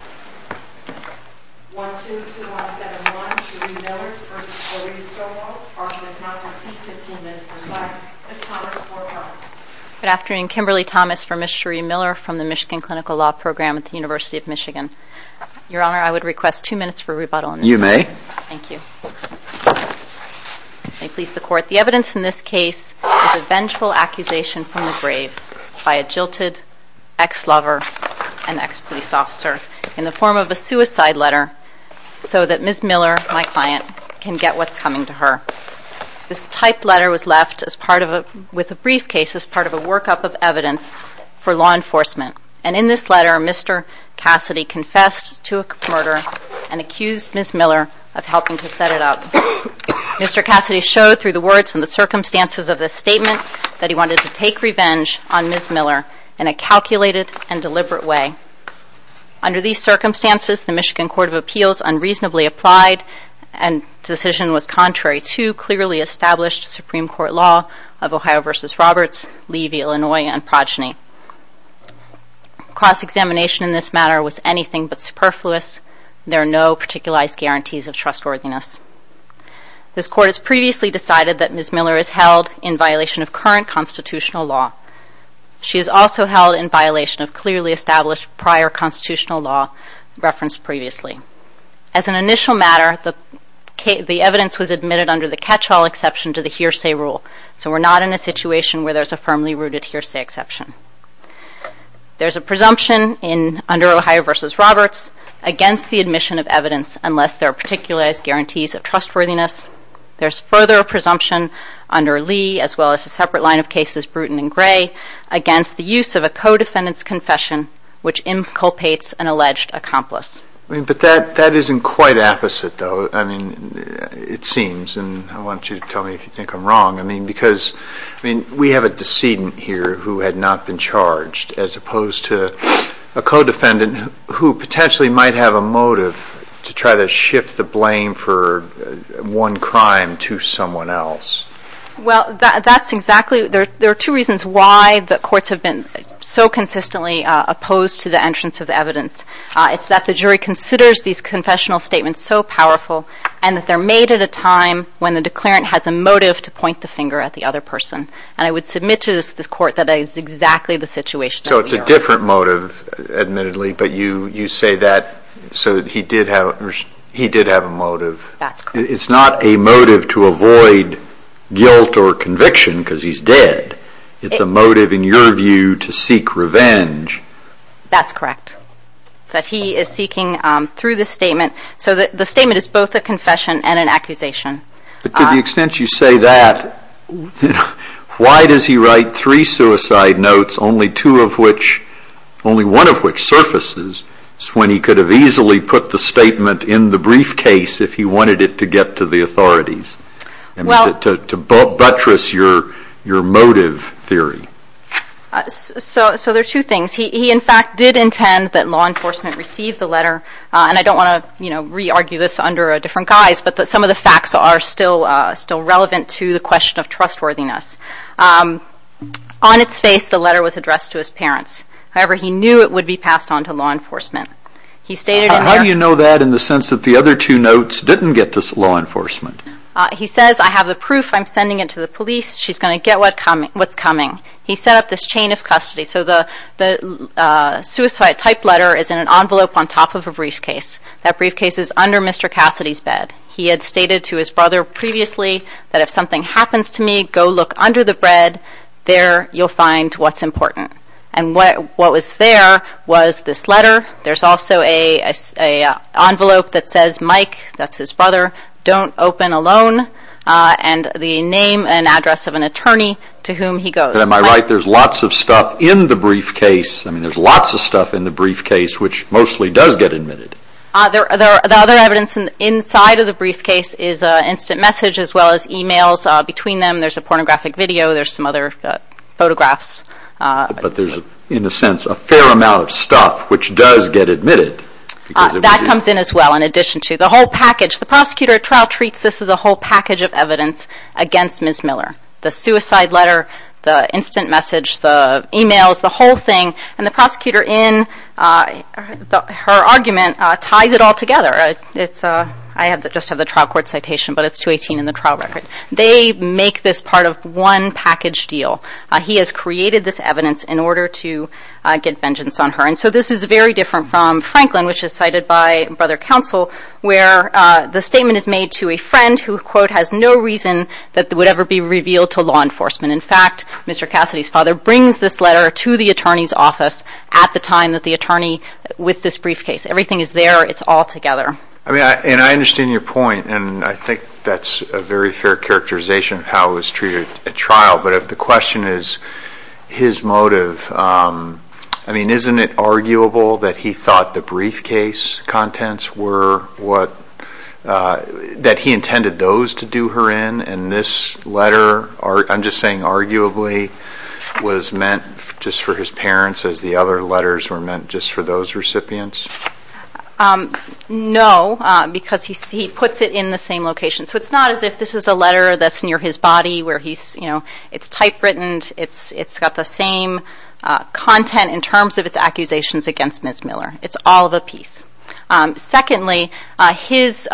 Good afternoon, Kimberly Thomas for Ms. Cherie Miller from the Michigan Clinical Law Program at the University of Michigan. Your Honor, I would request two minutes for rebuttal. You may. Thank you. May it please the Court, the evidence in this case is a vengeful accusation from the grave by a jilted ex-lover and ex-police officer in the form of a suicide letter so that Ms. Miller, my client, can get what's coming to her. This typed letter was left as part of a, with a briefcase, as part of a workup of evidence for law enforcement. And in this letter, Mr. Cassidy confessed to a murder and accused Ms. Miller of helping to set it up. Mr. Cassidy showed through the words and the circumstances of this statement that he wanted to take revenge on Ms. Miller in a calculated and deliberate way. Under these circumstances, the Michigan Court of Appeals unreasonably applied and the decision was contrary to clearly established Supreme Court law of Ohio v. Roberts, Levy, Illinois, and Progeny. Cross-examination in this matter was anything but superfluous. There are no particularized guarantees of trustworthiness. This Court has previously decided that Ms. Miller is guilty of current constitutional law. She is also held in violation of clearly established prior constitutional law referenced previously. As an initial matter, the evidence was admitted under the catch-all exception to the hearsay rule. So we're not in a situation where there's a firmly rooted hearsay exception. There's a presumption under Ohio v. Roberts against the admission of evidence unless there are particularized guarantees of trustworthiness. There's further presumption under Lee as well as a separate line of cases, Bruton and Gray, against the use of a co-defendant's confession, which inculpates an alleged accomplice. But that isn't quite apposite, though. I mean, it seems, and I want you to tell me if you think I'm wrong. I mean, because, I mean, we have a decedent here who had not been charged as opposed to a co-defendant who potentially might have a motive to try to shift the blame for one crime to someone else. Well, that's exactly, there are two reasons why the courts have been so consistently opposed to the entrance of evidence. It's that the jury considers these confessional statements so powerful and that they're made at a time when the declarant has a motive to point the finger at the other person. And I would submit to this court that that is exactly the situation that we are in. So it's a different motive, admittedly, but you say that so that he did have a motive. It's not a motive to avoid guilt or conviction because he's dead. It's a motive, in your view, to seek revenge. That's correct. That he is seeking, through the statement, so that the statement is both a confession and an accusation. But to the extent you say that, why does he write three suicide notes, only two of which, only one of which surfaces, when he could have easily put the statement in the briefcase if he wanted it to get to the authorities? I mean, to buttress your motive theory. So there are two things. He, in fact, did intend that law enforcement receive the letter, and I don't want to, you know, re-argue this under a different guise, but that some of the facts are still relevant to the question of trustworthiness. On its face, the letter was addressed to his parents. However, he knew it would be passed on to law enforcement. He stated in there... How do you know that in the sense that the other two notes didn't get to law enforcement? He says, I have the proof. I'm sending it to the police. She's going to get what's coming. He set up this chain of custody. So the suicide type letter is in an envelope on top of a briefcase. That briefcase is under Mr. Cassidy's bed. He had stated to his brother previously that if something happens to me, go look under the bread. There you'll find what's important. And what was there was this letter. There's also an envelope that says, Mike, that's his brother, don't open alone, and the name and address of an attorney to whom he goes. Am I right? There's lots of stuff in the briefcase. I mean, there's lots of stuff in the briefcase which mostly does get admitted. The other evidence inside of the briefcase is instant message as well as emails between them. There's a pornographic video. There's some other photographs. But there's, in a sense, a fair amount of stuff which does get admitted. That comes in as well, in addition to the whole package. The prosecutor at trial treats this as a whole package of evidence against Ms. Miller. The suicide letter, the instant Her argument ties it all together. I just have the trial court citation, but it's 218 in the trial record. They make this part of one package deal. He has created this evidence in order to get vengeance on her. And so this is very different from Franklin, which is cited by Brother Counsel, where the statement is made to a friend who, quote, has no reason that it would ever be revealed to law enforcement. In fact, Mr. Cassidy's father brings this letter to the attorney's with this briefcase. Everything is there. It's all together. I mean, and I understand your point. And I think that's a very fair characterization of how it was treated at trial. But if the question is his motive, I mean, isn't it arguable that he thought the briefcase contents were what, that he intended those to do her in? And this letter, I'm just saying arguably, was meant just for his parents as the other plaintiff's recipients? No, because he puts it in the same location. So it's not as if this is a letter that's near his body where he's, you know, it's typewritten. It's got the same content in terms of its accusations against Ms. Miller. It's all of a piece. Secondly, his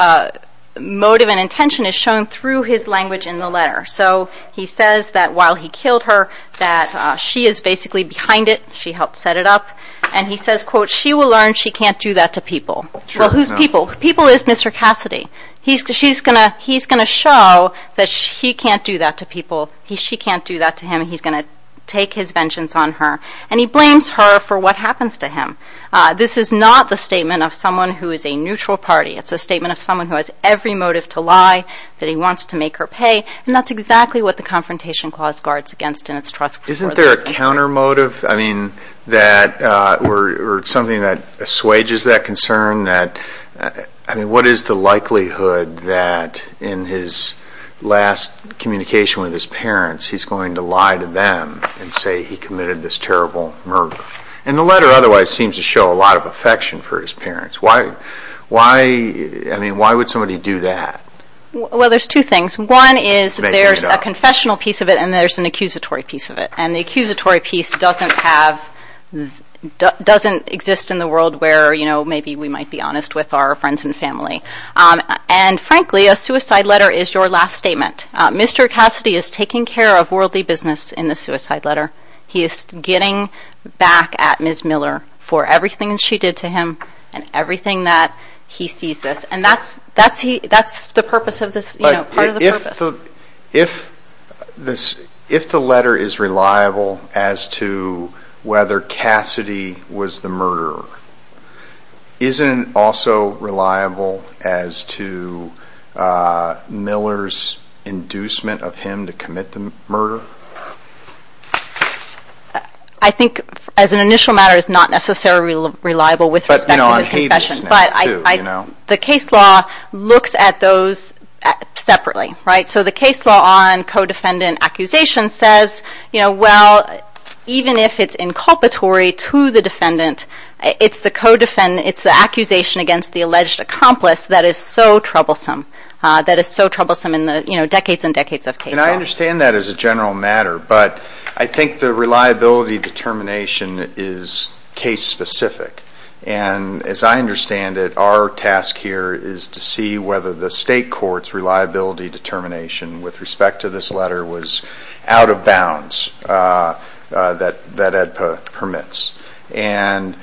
motive and intention is shown through his language in the letter. So he says that while he killed her, that she is basically behind it. She helped set it up. And he says, quote, she will learn she can't do that to people. Sure, no. Well, who's people? People is Mr. Cassidy. He's going to show that she can't do that to people. She can't do that to him. He's going to take his vengeance on her. And he blames her for what happens to him. This is not the statement of someone who is a neutral party. It's a statement of someone who has every motive to lie, that he wants to make her pay. And that's exactly what the Confrontation Clause guards against in its trust. Isn't there a counter motive, I mean, that, or something that assuages that concern? I mean, what is the likelihood that in his last communication with his parents, he's going to lie to them and say he committed this terrible murder? And the letter otherwise seems to show a lot of affection for his parents. Why, I mean, why would somebody do that? Well, there's two things. One is there's a confessional piece of it and there's an accusatory piece of it. And the accusatory piece doesn't have, doesn't exist in the world where, you know, maybe we might be honest with our friends and family. And frankly, a suicide letter is your last statement. Mr. Cassidy is taking care of worldly business in the suicide letter. He is getting back at Ms. Miller for everything she did to him and everything that he sees this. And that's, that's he, that's the purpose of this, you know, part of the purpose. If this, if the letter is reliable as to whether Cassidy was the murderer, isn't it also reliable as to Miller's inducement of him to commit the murder? I think as an initial matter, it's not necessarily reliable with respect to his confession, but the case law looks at those separately, right? So the case law on co-defendant accusation says, you know, well, even if it's inculpatory to the defendant, it's the co-defendant, it's the accusation against the alleged accomplice that is so troublesome, that is so troublesome in the decades and decades of case law. And I understand that as a general matter, but I think the reliability determination is case specific. And as I understand it, our task here is to see whether the state court's reliability determination with respect to this letter was out of bounds, that, that EDPA permits. And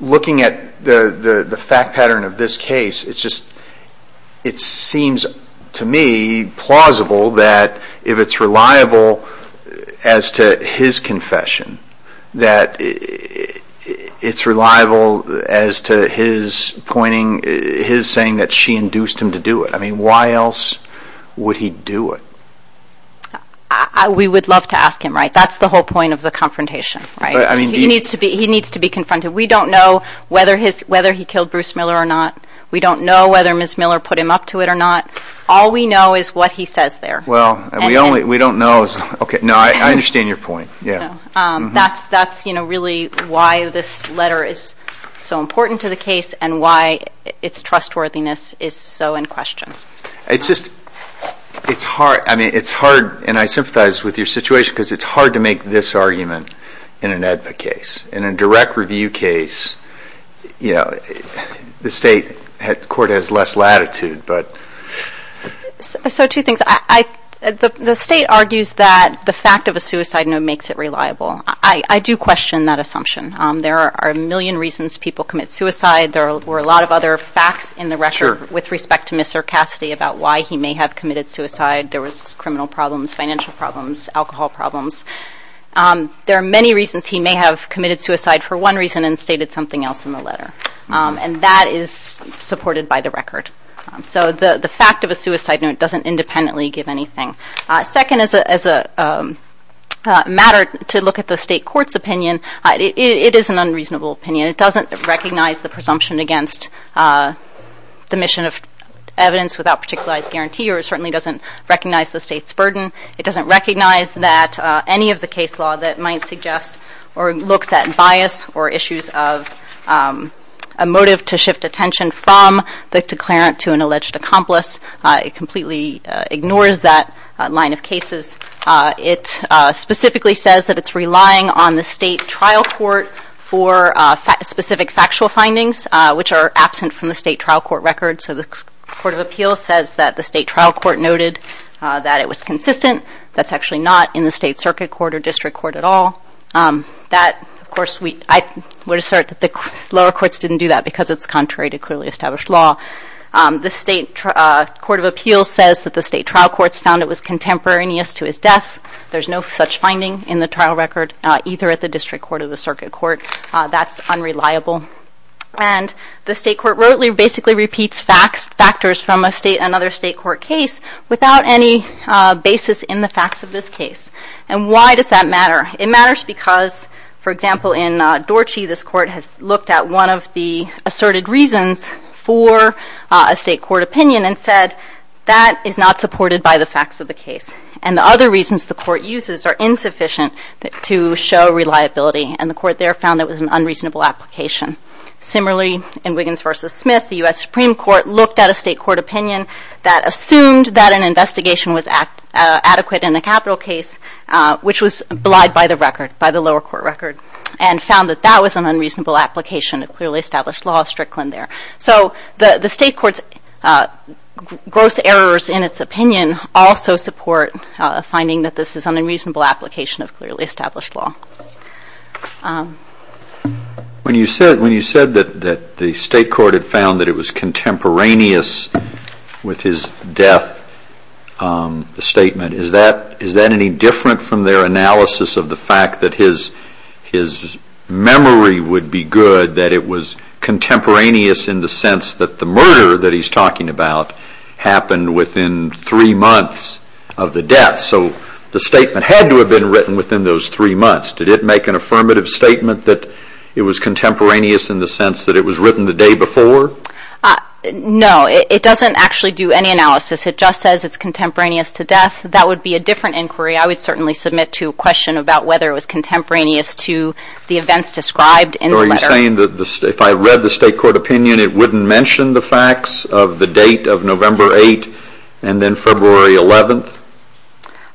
looking at the, the, the fact pattern of this case, it's just, it seems to me plausible that if it's reliable as to his confession, that it's reliable as to his pointing, his saying that she induced him to do it. I mean, why else would he do it? We would love to ask him, right? That's the whole point of the confrontation, right? He needs to be, he needs to be confronted. We don't know whether his, whether he killed Bruce Miller or not. We don't know whether Ms. Miller put him up to it or not. All we know is what he says there. Well, we only, we don't know. Okay. No, I understand your point. Yeah. That's, that's, you know, really why this letter is so important to the case and why its trustworthiness is so in question. It's just, it's hard. I mean, it's hard. And I sympathize with your situation because it's hard to make this argument in an EDVA case. In a direct review case, you know, the state had, the court has less latitude, but. So two things. I, the state argues that the fact of a suicide note makes it reliable. I do question that assumption. There are a million reasons people commit suicide. There were a lot of other facts in the record with respect to Mr. Cassidy about why he may have committed suicide. There are many reasons he may have committed suicide for one reason and stated something else in the letter. And that is supported by the record. So the, the fact of a suicide note doesn't independently give anything. Second, as a, as a matter to look at the state court's opinion, it is an unreasonable opinion. It doesn't recognize the presumption against the mission of evidence without particularized guarantee or it certainly doesn't recognize the state's burden. It doesn't recognize that any of the case law that might suggest or looks at bias or issues of a motive to shift attention from the declarant to an alleged accomplice. It completely ignores that line of cases. It specifically says that it's relying on the state trial court for specific factual findings which are absent from the state trial court record. So the court of appeals says that the state trial court noted that it was consistent. That's actually not in the state circuit court or district court at all. That, of course, we, I would assert that the lower courts didn't do that because it's contrary to clearly established law. The state court of appeals says that the state trial courts found it was contemporaneous to his death. There's no such finding in the trial record either at the district court or the circuit court. That's unreliable. And the state court basically repeats facts, factors from another state court case without any basis in the facts of this case. And why does that matter? It matters because, for example, in Dorche this court has looked at one of the asserted reasons for a state court opinion and said that is not supported by the facts of the case. And the other reasons the court uses are insufficient to show reliability and the court there found it was an unreasonable application. Similarly, in Wiggins v. Smith, the U.S. Supreme Court looked at a state court opinion that assumed that an investigation was adequate in the capital case, which was belied by the record, by the lower court record, and found that that was an unreasonable application of clearly established law, Strickland there. So the state court's gross errors in its opinion also support a finding that this is an unreasonable application of clearly established law. When you said that the state court had found that it was contemporaneous with his death, the statement, is that any different from their analysis of the fact that his memory would be good, that it was contemporaneous in the sense that the murder that he's talking about happened within three months of the death? So the statement had to have been written within those three months. Did it make an affirmative statement that it was contemporaneous in the sense that it was written the day before? No, it doesn't actually do any analysis. It just says it's contemporaneous to death. That would be a different inquiry. I would certainly submit to a question about whether it was contemporaneous to the events described in the letter. Are you saying that if I read the state court opinion, it wouldn't mention the facts of the date of November 8th and then February 11th?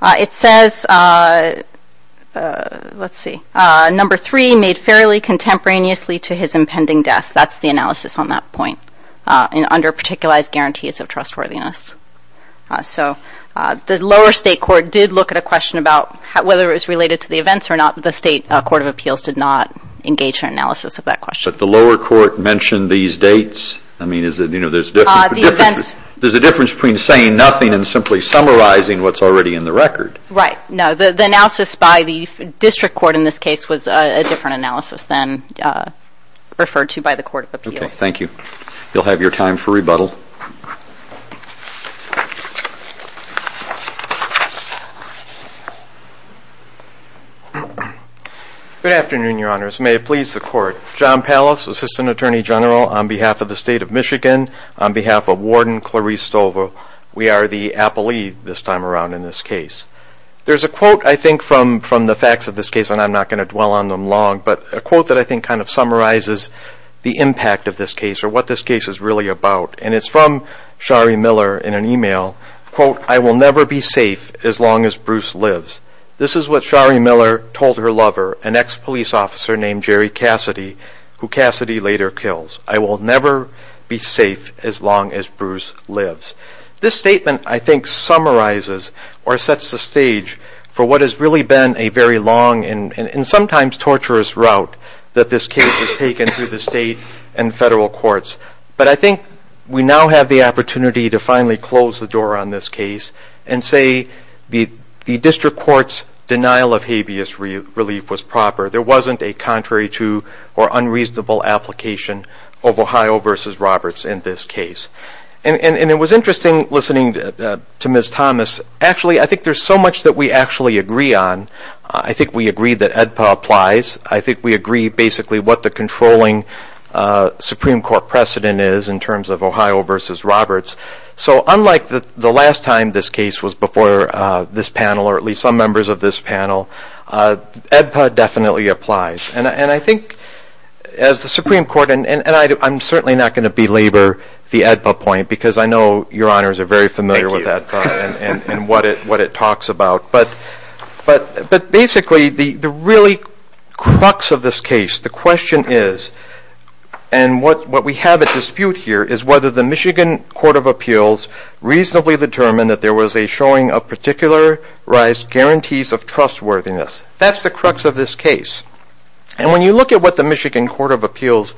It says that the state court, let's see, number three, made fairly contemporaneously to his impending death. That's the analysis on that point, under particularized guarantees of trustworthiness. So the lower state court did look at a question about whether it was related to the events or not. The state court of appeals did not engage in analysis of that question. But the lower court mentioned these dates? I mean, is it, you know, there's a difference between saying nothing and simply summarizing what's already in the record. Right. No, the analysis by the district court in this case was a different analysis than referred to by the court of appeals. Okay, thank you. You'll have your time for rebuttal. Good afternoon, your honors. May it please the court. John Pallas, assistant attorney general on behalf of the state of Michigan. On behalf of Warden Clarice Stover, we are the appellee this time around in this case. There's a quote, I think, from the facts of this case, and I'm not going to dwell on them long, but a quote that I think kind of summarizes the impact of this case or what this case is really about. And it's from Shari Miller in an email, quote, I will never be safe as long as Bruce lives. This is what Shari Miller told her lover, an ex-police officer named Jerry Cassidy, who Cassidy later kills. I will never be safe as long as Bruce lives. This statement, I think, summarizes or sets the stage for what has really been a very long and sometimes torturous route that this case has taken through the state and federal courts. But I think we now have the opportunity to finally close the door on this case and say the district court's denial of habeas relief was proper. There wasn't a contrary to or unreasonable application of Ohio v. Roberts in this case. And it was interesting listening to Ms. Thomas. Actually, I think there's so much that we actually agree on. I think we agree that AEDPA applies. I think we agree basically what the controlling Supreme Court precedent is in terms of Ohio v. Roberts. So unlike the last time this case was before this panel, or at least some members of this panel, AEDPA definitely applies. And I think as the Supreme Court, and I'm certainly not going to belabor the AEDPA point because I know your honors are very familiar with AEDPA and what it talks about. But basically the really crux of this case, the question is, and what we have at dispute here, is whether the Michigan Court of Appeals reasonably determined that there was a showing of particularized guarantees of trustworthiness. That's the crux of this case. And when you look at what the Michigan Court of Appeals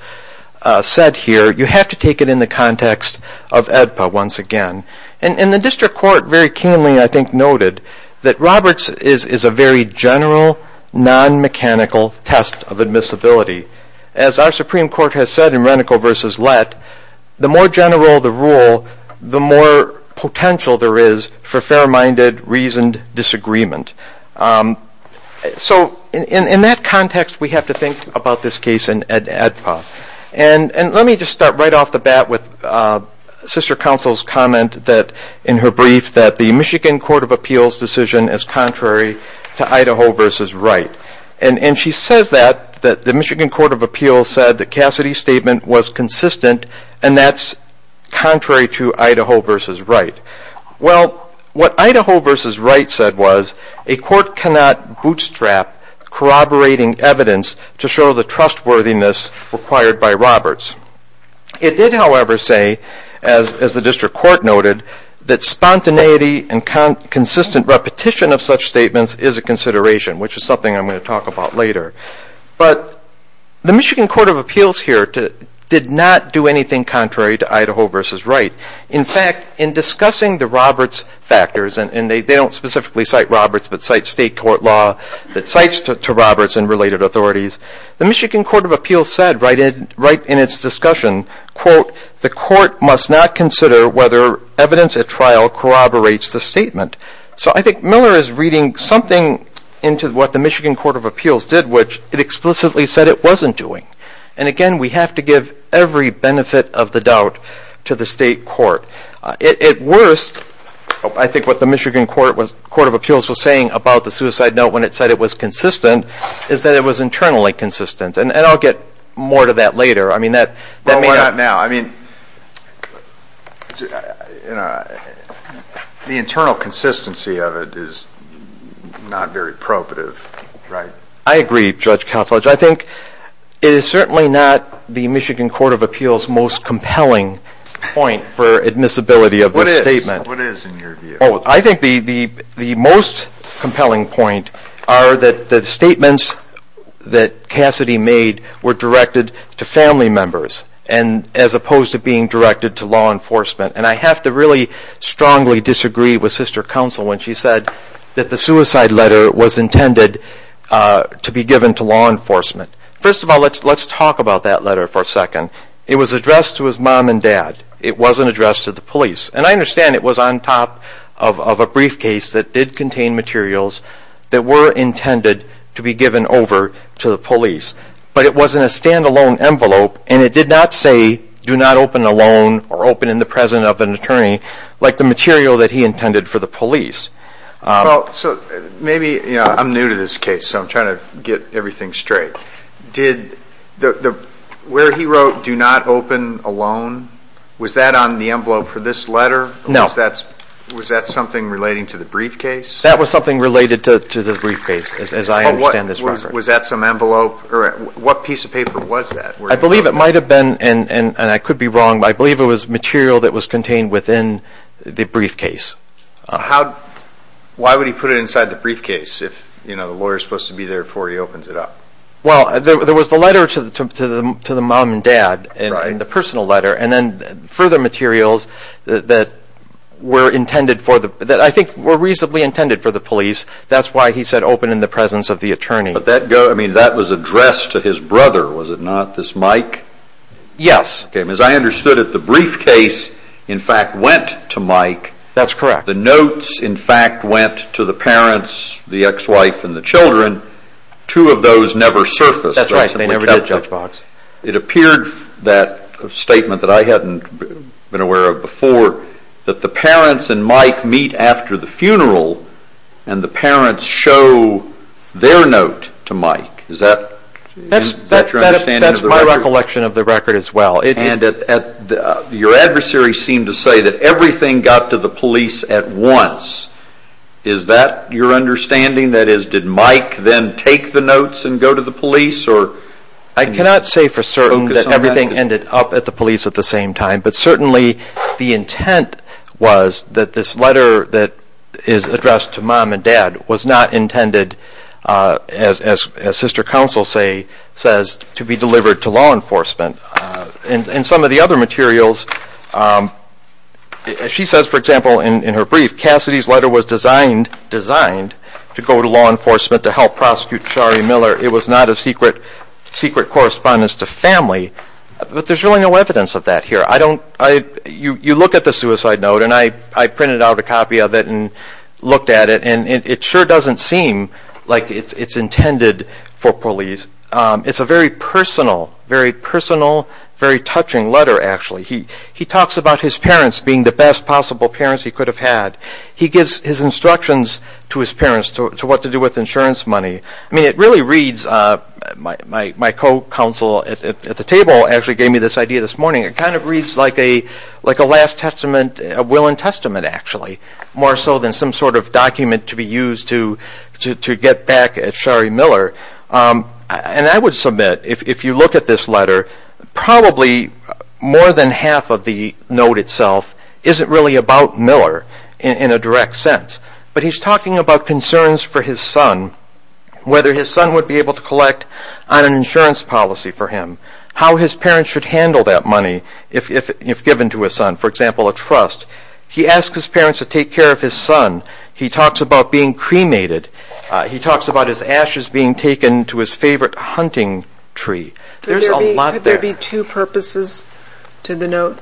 said here, you have to take it in the context of AEDPA once again. And the district court very keenly, I think, noted that Roberts is a very general non-mechanical test of admissibility. As our Supreme Court has said in Renico v. Lett, the more general the rule, the more potential there is for fair-minded, reasoned disagreement. So in that context, we have to think about this case in AEDPA. And let me just start right off the bat with Sister Counsel's comment that, in her brief, that the Michigan Court of Appeals decision is contrary to Idaho v. Wright. And she says that, that the Michigan Court of Appeals decision is contrary to Idaho v. Wright. Well, what Idaho v. Wright said was, a court cannot bootstrap corroborating evidence to show the trustworthiness required by Roberts. It did, however, say, as the district court noted, that spontaneity and consistent repetition of such statements is a consideration, which is something I'm going to talk about later. But the Michigan Court of Appeals here did not do anything contrary to Idaho v. Wright. In fact, in discussing the Roberts factors, and they don't specifically cite Roberts, but cite state court law that cites to Roberts and related authorities, the Michigan Court of Appeals said, right in its discussion, quote, the court must not consider whether evidence at trial corroborates the statement. So I think Miller is reading something into what the Michigan Court of Appeals did, which it explicitly said it wasn't doing. And again, we have to give every benefit of the doubt to the state court. At worst, I think what the Michigan Court of Appeals was saying about the suicide note when it said it was consistent is that it was internally consistent. And I'll get more to that later. I mean, that may not... Well, why not now? I mean, the internal consistency of it is not very appropriate for Wright. I agree, Judge Koutsalage. I think it is certainly not the Michigan Court of Appeals' most compelling point for admissibility of this statement. What is, in your view? I think the most compelling point are that the statements that Cassidy made were directed to family members, as opposed to being directed to law enforcement. And I have to really strongly disagree with Sister Koutsalage when she said that the suicide letter was intended to be given to law enforcement. First of all, let's talk about that letter for a second. It was addressed to his mom and dad. It wasn't addressed to the police. And I understand it was on top of a briefcase that did contain materials that were intended to be given over to the police. But it was in a stand-alone envelope, and it did not say, do not open alone or open in the presence of an attorney, like the material that he intended for the police. So maybe... I'm new to this case, so I'm trying to get everything straight. Where he wrote, do not open alone, was that on the envelope for this letter? No. Was that something relating to the briefcase? That was something related to the briefcase, as I understand this record. Was that some envelope? What piece of paper was that? I believe it might have been, and I could be wrong, but I believe it was material that was contained within the briefcase. Why would he put it inside the briefcase if the lawyer is supposed to be there before he opens it up? Well, there was the letter to the mom and dad, and the personal letter, and then further materials that I think were reasonably intended for the police. That's why he said open in the presence of the attorney. That was addressed to his brother, was it not, this Mike? Yes. As I understood it, the briefcase, in fact, went to Mike. That's correct. The notes, in fact, went to the parents, the ex-wife, and the children. Two of those never surfaced. That's right. They never did, Judge Boggs. It appeared that statement that I hadn't been aware of before, that the parents and Mike meet after the funeral, and the parents show their note to Mike. Is that your understanding? That's my recollection of the record as well. Your adversary seemed to say that everything got to the police at once. Is that your understanding? That is, did Mike then take the notes and go to the police? I cannot say for certain that everything ended up at the police at the same time, but certainly the intent was that this letter that is addressed to mom and dad was not intended, as sister counsel says, to be delivered to law enforcement. In some of the other materials, she says, for example, in her brief, Cassidy's letter was designed to go to law enforcement to help prosecute Shari Miller. It was not a secret correspondence to family, but there's really no evidence of that here. You look at the suicide note, and I printed out a copy of it and looked at it, and it sure doesn't seem like it's intended for police. It's a very personal, very touching letter actually. He talks about his parents being the best possible parents he could have had. He gives his instructions to his parents to what to do with insurance money. It really reads, my co-counsel at the table actually gave me this idea this morning, it kind of reads like a last testament, a will and testament actually, more so than some sort of document to be used to get back at Shari Miller. I would submit, if you look at this letter, probably more than half of the note itself isn't really about Miller in a direct sense, but he's talking about concerns for his son, whether his son would be able to collect on an insurance policy for him, how his parents should handle that money if given to his son, for example a trust. He asks his parents to take care of his son. He talks about being cremated. He talks about his ashes being taken to his favorite hunting tree. There's a lot there. Could there be two purposes to the note?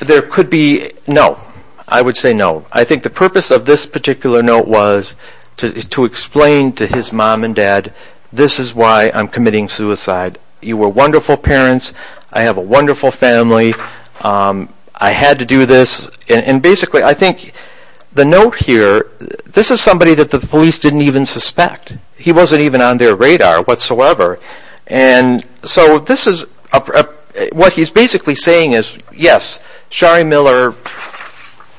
There could be, no, I would say no. I think the purpose of this particular note was to explain to his mom and dad, this is why I'm committing suicide. You were wonderful parents, I have a wonderful family, I had to do this, and basically I think the note here, this is somebody that the police didn't even suspect. He wasn't even on their radar whatsoever, and so this is, what he's basically saying is, yes, Shari Miller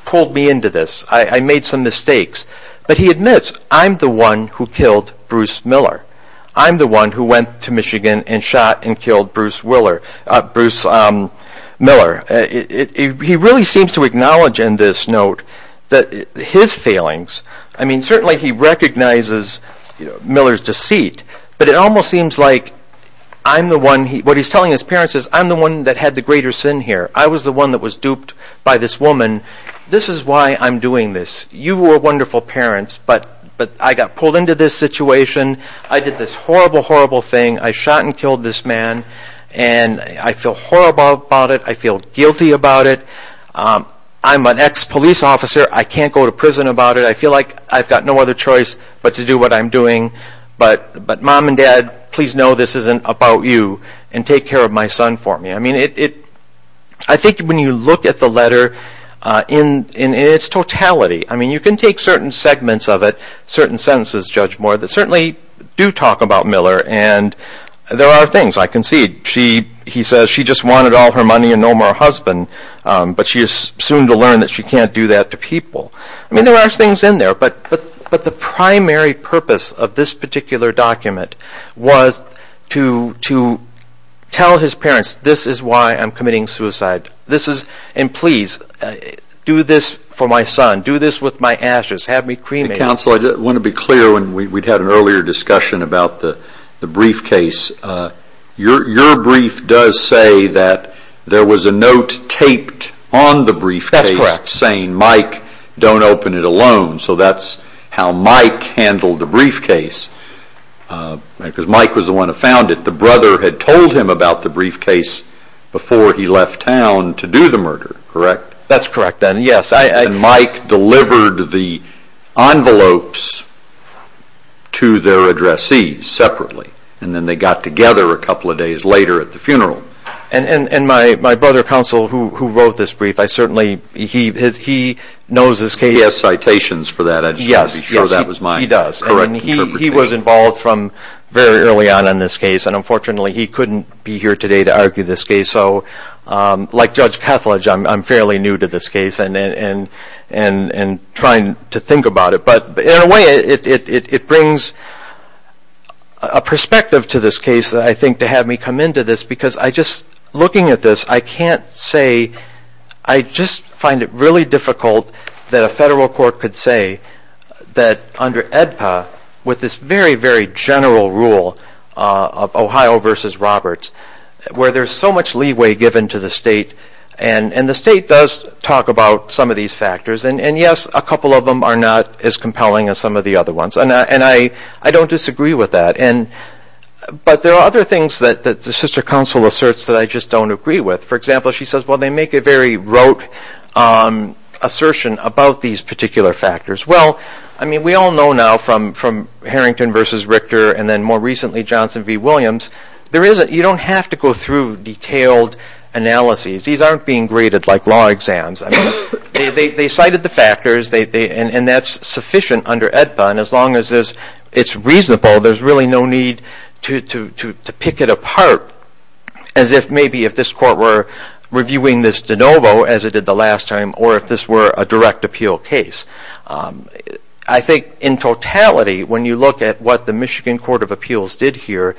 pulled me into this, I made some mistakes, but he admits, I'm the one who killed Bruce Miller. I'm the one who went to Michigan and shot and killed Bruce Miller. He really seems to acknowledge in this note that his failings, I mean certainly he recognizes Miller's deceit, but it almost seems like I'm the one, what he's telling his parents is, I'm the one that had the greater sin here. I was the one that was duped by this woman. This is why I'm doing this. You were wonderful parents, but I got pulled into this situation, I did this horrible, horrible thing, I shot and killed this man, and I feel horrible about it, I feel guilty about it, I'm an ex-police officer, I can't go to prison about it, I feel like I've got no other choice but to do what I'm doing, but mom and dad, please know this isn't about you, and take care of my son for me. I think when you look at the letter in its totality, you can take certain segments of it, certain sentences, Judge Moore, that certainly do talk about Miller and there are things, I concede, he says she just wanted all her money and no more husband, but she is soon to learn that she can't do that to people. There are things in there, but the primary purpose of this particular document was to tell his parents this is why I'm committing suicide, and please do this for my son, do this with my ashes, have me cremated. Counsel, I want to be clear, we had an earlier discussion about the briefcase. Your brief does say that there was a note taped on the briefcase saying, Mike, don't open it alone, so that's how Mike handled the briefcase, because Mike was the one who found it. The brother had told him about the briefcase before he left town to do the murder, correct? That's correct, yes. Mike delivered the envelopes to their addressees separately, and then they got together a couple of days later at the funeral. And my brother, Counsel, who wrote this brief, I certainly, he knows this case. He has citations for that, I just wanted to be sure that was my correct interpretation. He was involved from very early on in this case, and unfortunately he couldn't be here today to argue this case, so like Judge Kethledge, I'm fairly new to this case and trying to think about it, but in a way it brings a perspective to this case that I think to have me come to this, because I just, looking at this, I can't say, I just find it really difficult that a federal court could say that under AEDPA, with this very, very general rule of Ohio versus Roberts, where there's so much leeway given to the state, and the state does talk about some of these factors, and yes, a couple of them are not as compelling as some of the other ones, and I don't disagree with that. And, but there are other things that the sister counsel asserts that I just don't agree with. For example, she says, well, they make a very rote assertion about these particular factors. Well, I mean, we all know now from Harrington versus Richter, and then more recently Johnson v. Williams, there is a, you don't have to go through detailed analyses. These aren't being graded like law exams. They cited the factors, and that's sufficient under AEDPA, and as long as it's reasonable, there's really no need to pick it apart as if maybe if this court were reviewing this de novo as it did the last time, or if this were a direct appeal case. I think in totality, when you look at what the Michigan Court of Appeals did here,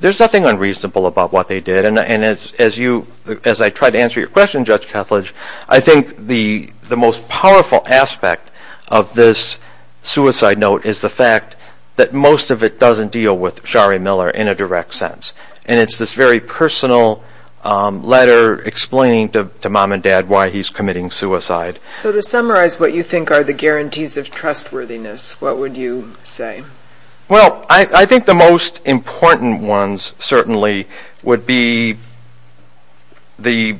there's nothing unreasonable about what they did, and as you, as I try to answer your question, Judge Kethledge, I think the most powerful aspect of this suicide note is the fact that most of it doesn't deal with Shari Miller in a direct sense, and it's this very personal letter explaining to mom and dad why he's committing suicide. So to summarize what you think are the guarantees of trustworthiness, what would you say? Well, I think the most important ones certainly would be the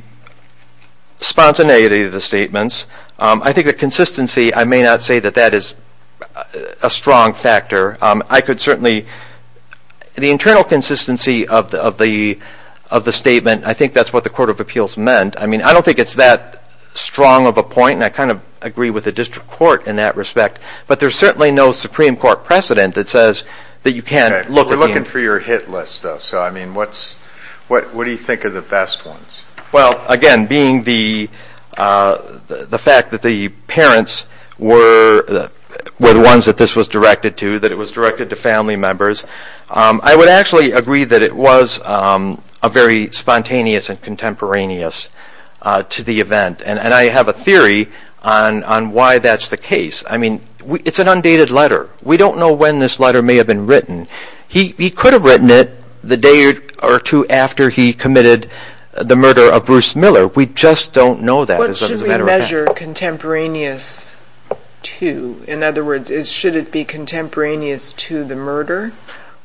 spontaneity of the statements. I think the consistency, I may not say that that is a strong factor. I could certainly, the internal consistency of the statement, I think that's what the Court of Appeals meant. I mean, I don't think it's that strong of a point, and I kind of agree with the District Court in that respect, but there's certainly no Supreme Court precedent that says that you can't look at the... We're looking for your hit list, though, so I mean, what do you think are the best ones? Well, again, being the fact that the parents were the ones that this was directed to, that it was directed to family members, I would actually agree that it was a very spontaneous and contemporaneous to the event, and I have a theory on why that's the case. I mean, it's an undated letter. We don't know when this letter may have been written. He could have written it the day or two after he committed the murder of Bruce Miller. We just don't know that as a matter of fact. Should the measure be contemporaneous to, in other words, should it be contemporaneous to the murder,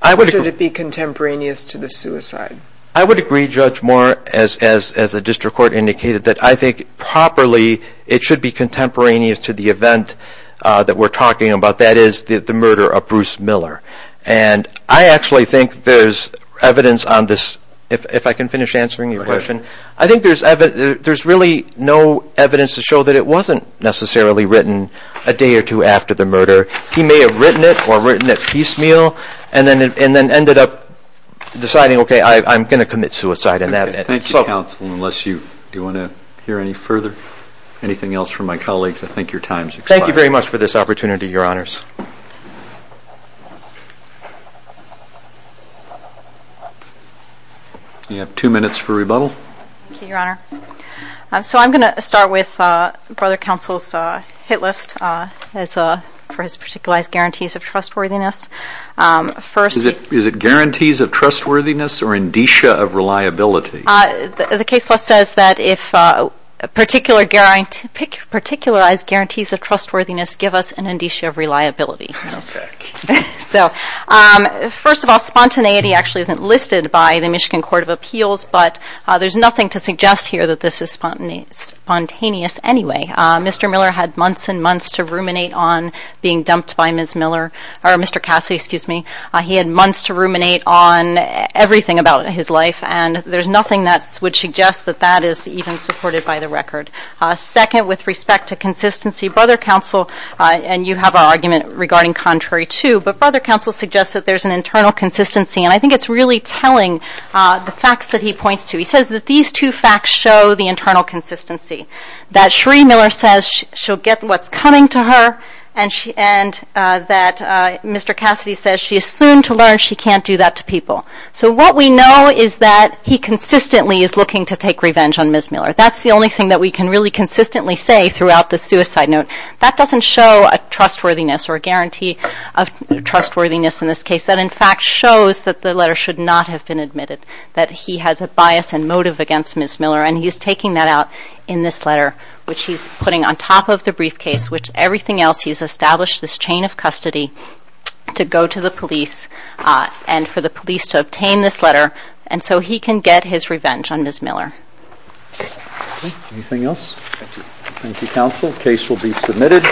or should it be contemporaneous to the suicide? I would agree, Judge Moore, as the District Court indicated, that I think properly it should be contemporaneous to the event that we're talking about, that is, the murder of Bruce Miller, and I actually think there's evidence on this, if I can finish answering your question. I think there's really no evidence to show that it wasn't necessarily written a day or two after the murder. He may have written it, or written it piecemeal, and then ended up deciding, okay, I'm going to commit suicide in that instance. Thank you, Counsel, unless you want to hear any further, anything else from my colleagues, I think your time has expired. Thank you very much for this opportunity, Your Honors. You have two minutes for rebuttal. Thank you, Your Honor. So I'm going to start with Brother Counsel's hit list for his particularized guarantees of trustworthiness. Is it guarantees of trustworthiness or indicia of reliability? The case list says that if particularized guarantees of trustworthiness give us an indicia of reliability. So first of all, spontaneity actually isn't listed by the Michigan Court of Appeals, but there's nothing to suggest here that this is spontaneous anyway. Mr. Miller had months and months to ruminate on being dumped by Ms. Miller, or Mr. Cassidy, excuse me. He had months to ruminate on everything about his life, and there's nothing that would suggest that that is even supported by the record. Second, with respect to consistency, Brother Counsel, and you have an argument regarding contrary too, but Brother Counsel suggests that there's an internal consistency, and I think it's really telling the facts that he points to. He says that these two facts show the internal consistency, that Sheree Miller says she'll get what's coming to her, and that Mr. Cassidy says she is soon to learn she can't do that to people. So what we know is that he consistently is looking to take revenge on Ms. Miller. That's the only thing that we can really consistently say throughout this suicide note. That doesn't show a trustworthiness or a guarantee of trustworthiness in this case. That, in fact, shows that the letter should not have been admitted, that he has a bias and motive against Ms. Miller, and he's taking that out in this letter, which he's putting on top of the briefcase, which everything else he's established this chain of custody to go to the police and for the police to obtain this letter, and so he can get his revenge on Ms. Miller. Anything else? Thank you. Thank you, counsel. Case will be submitted.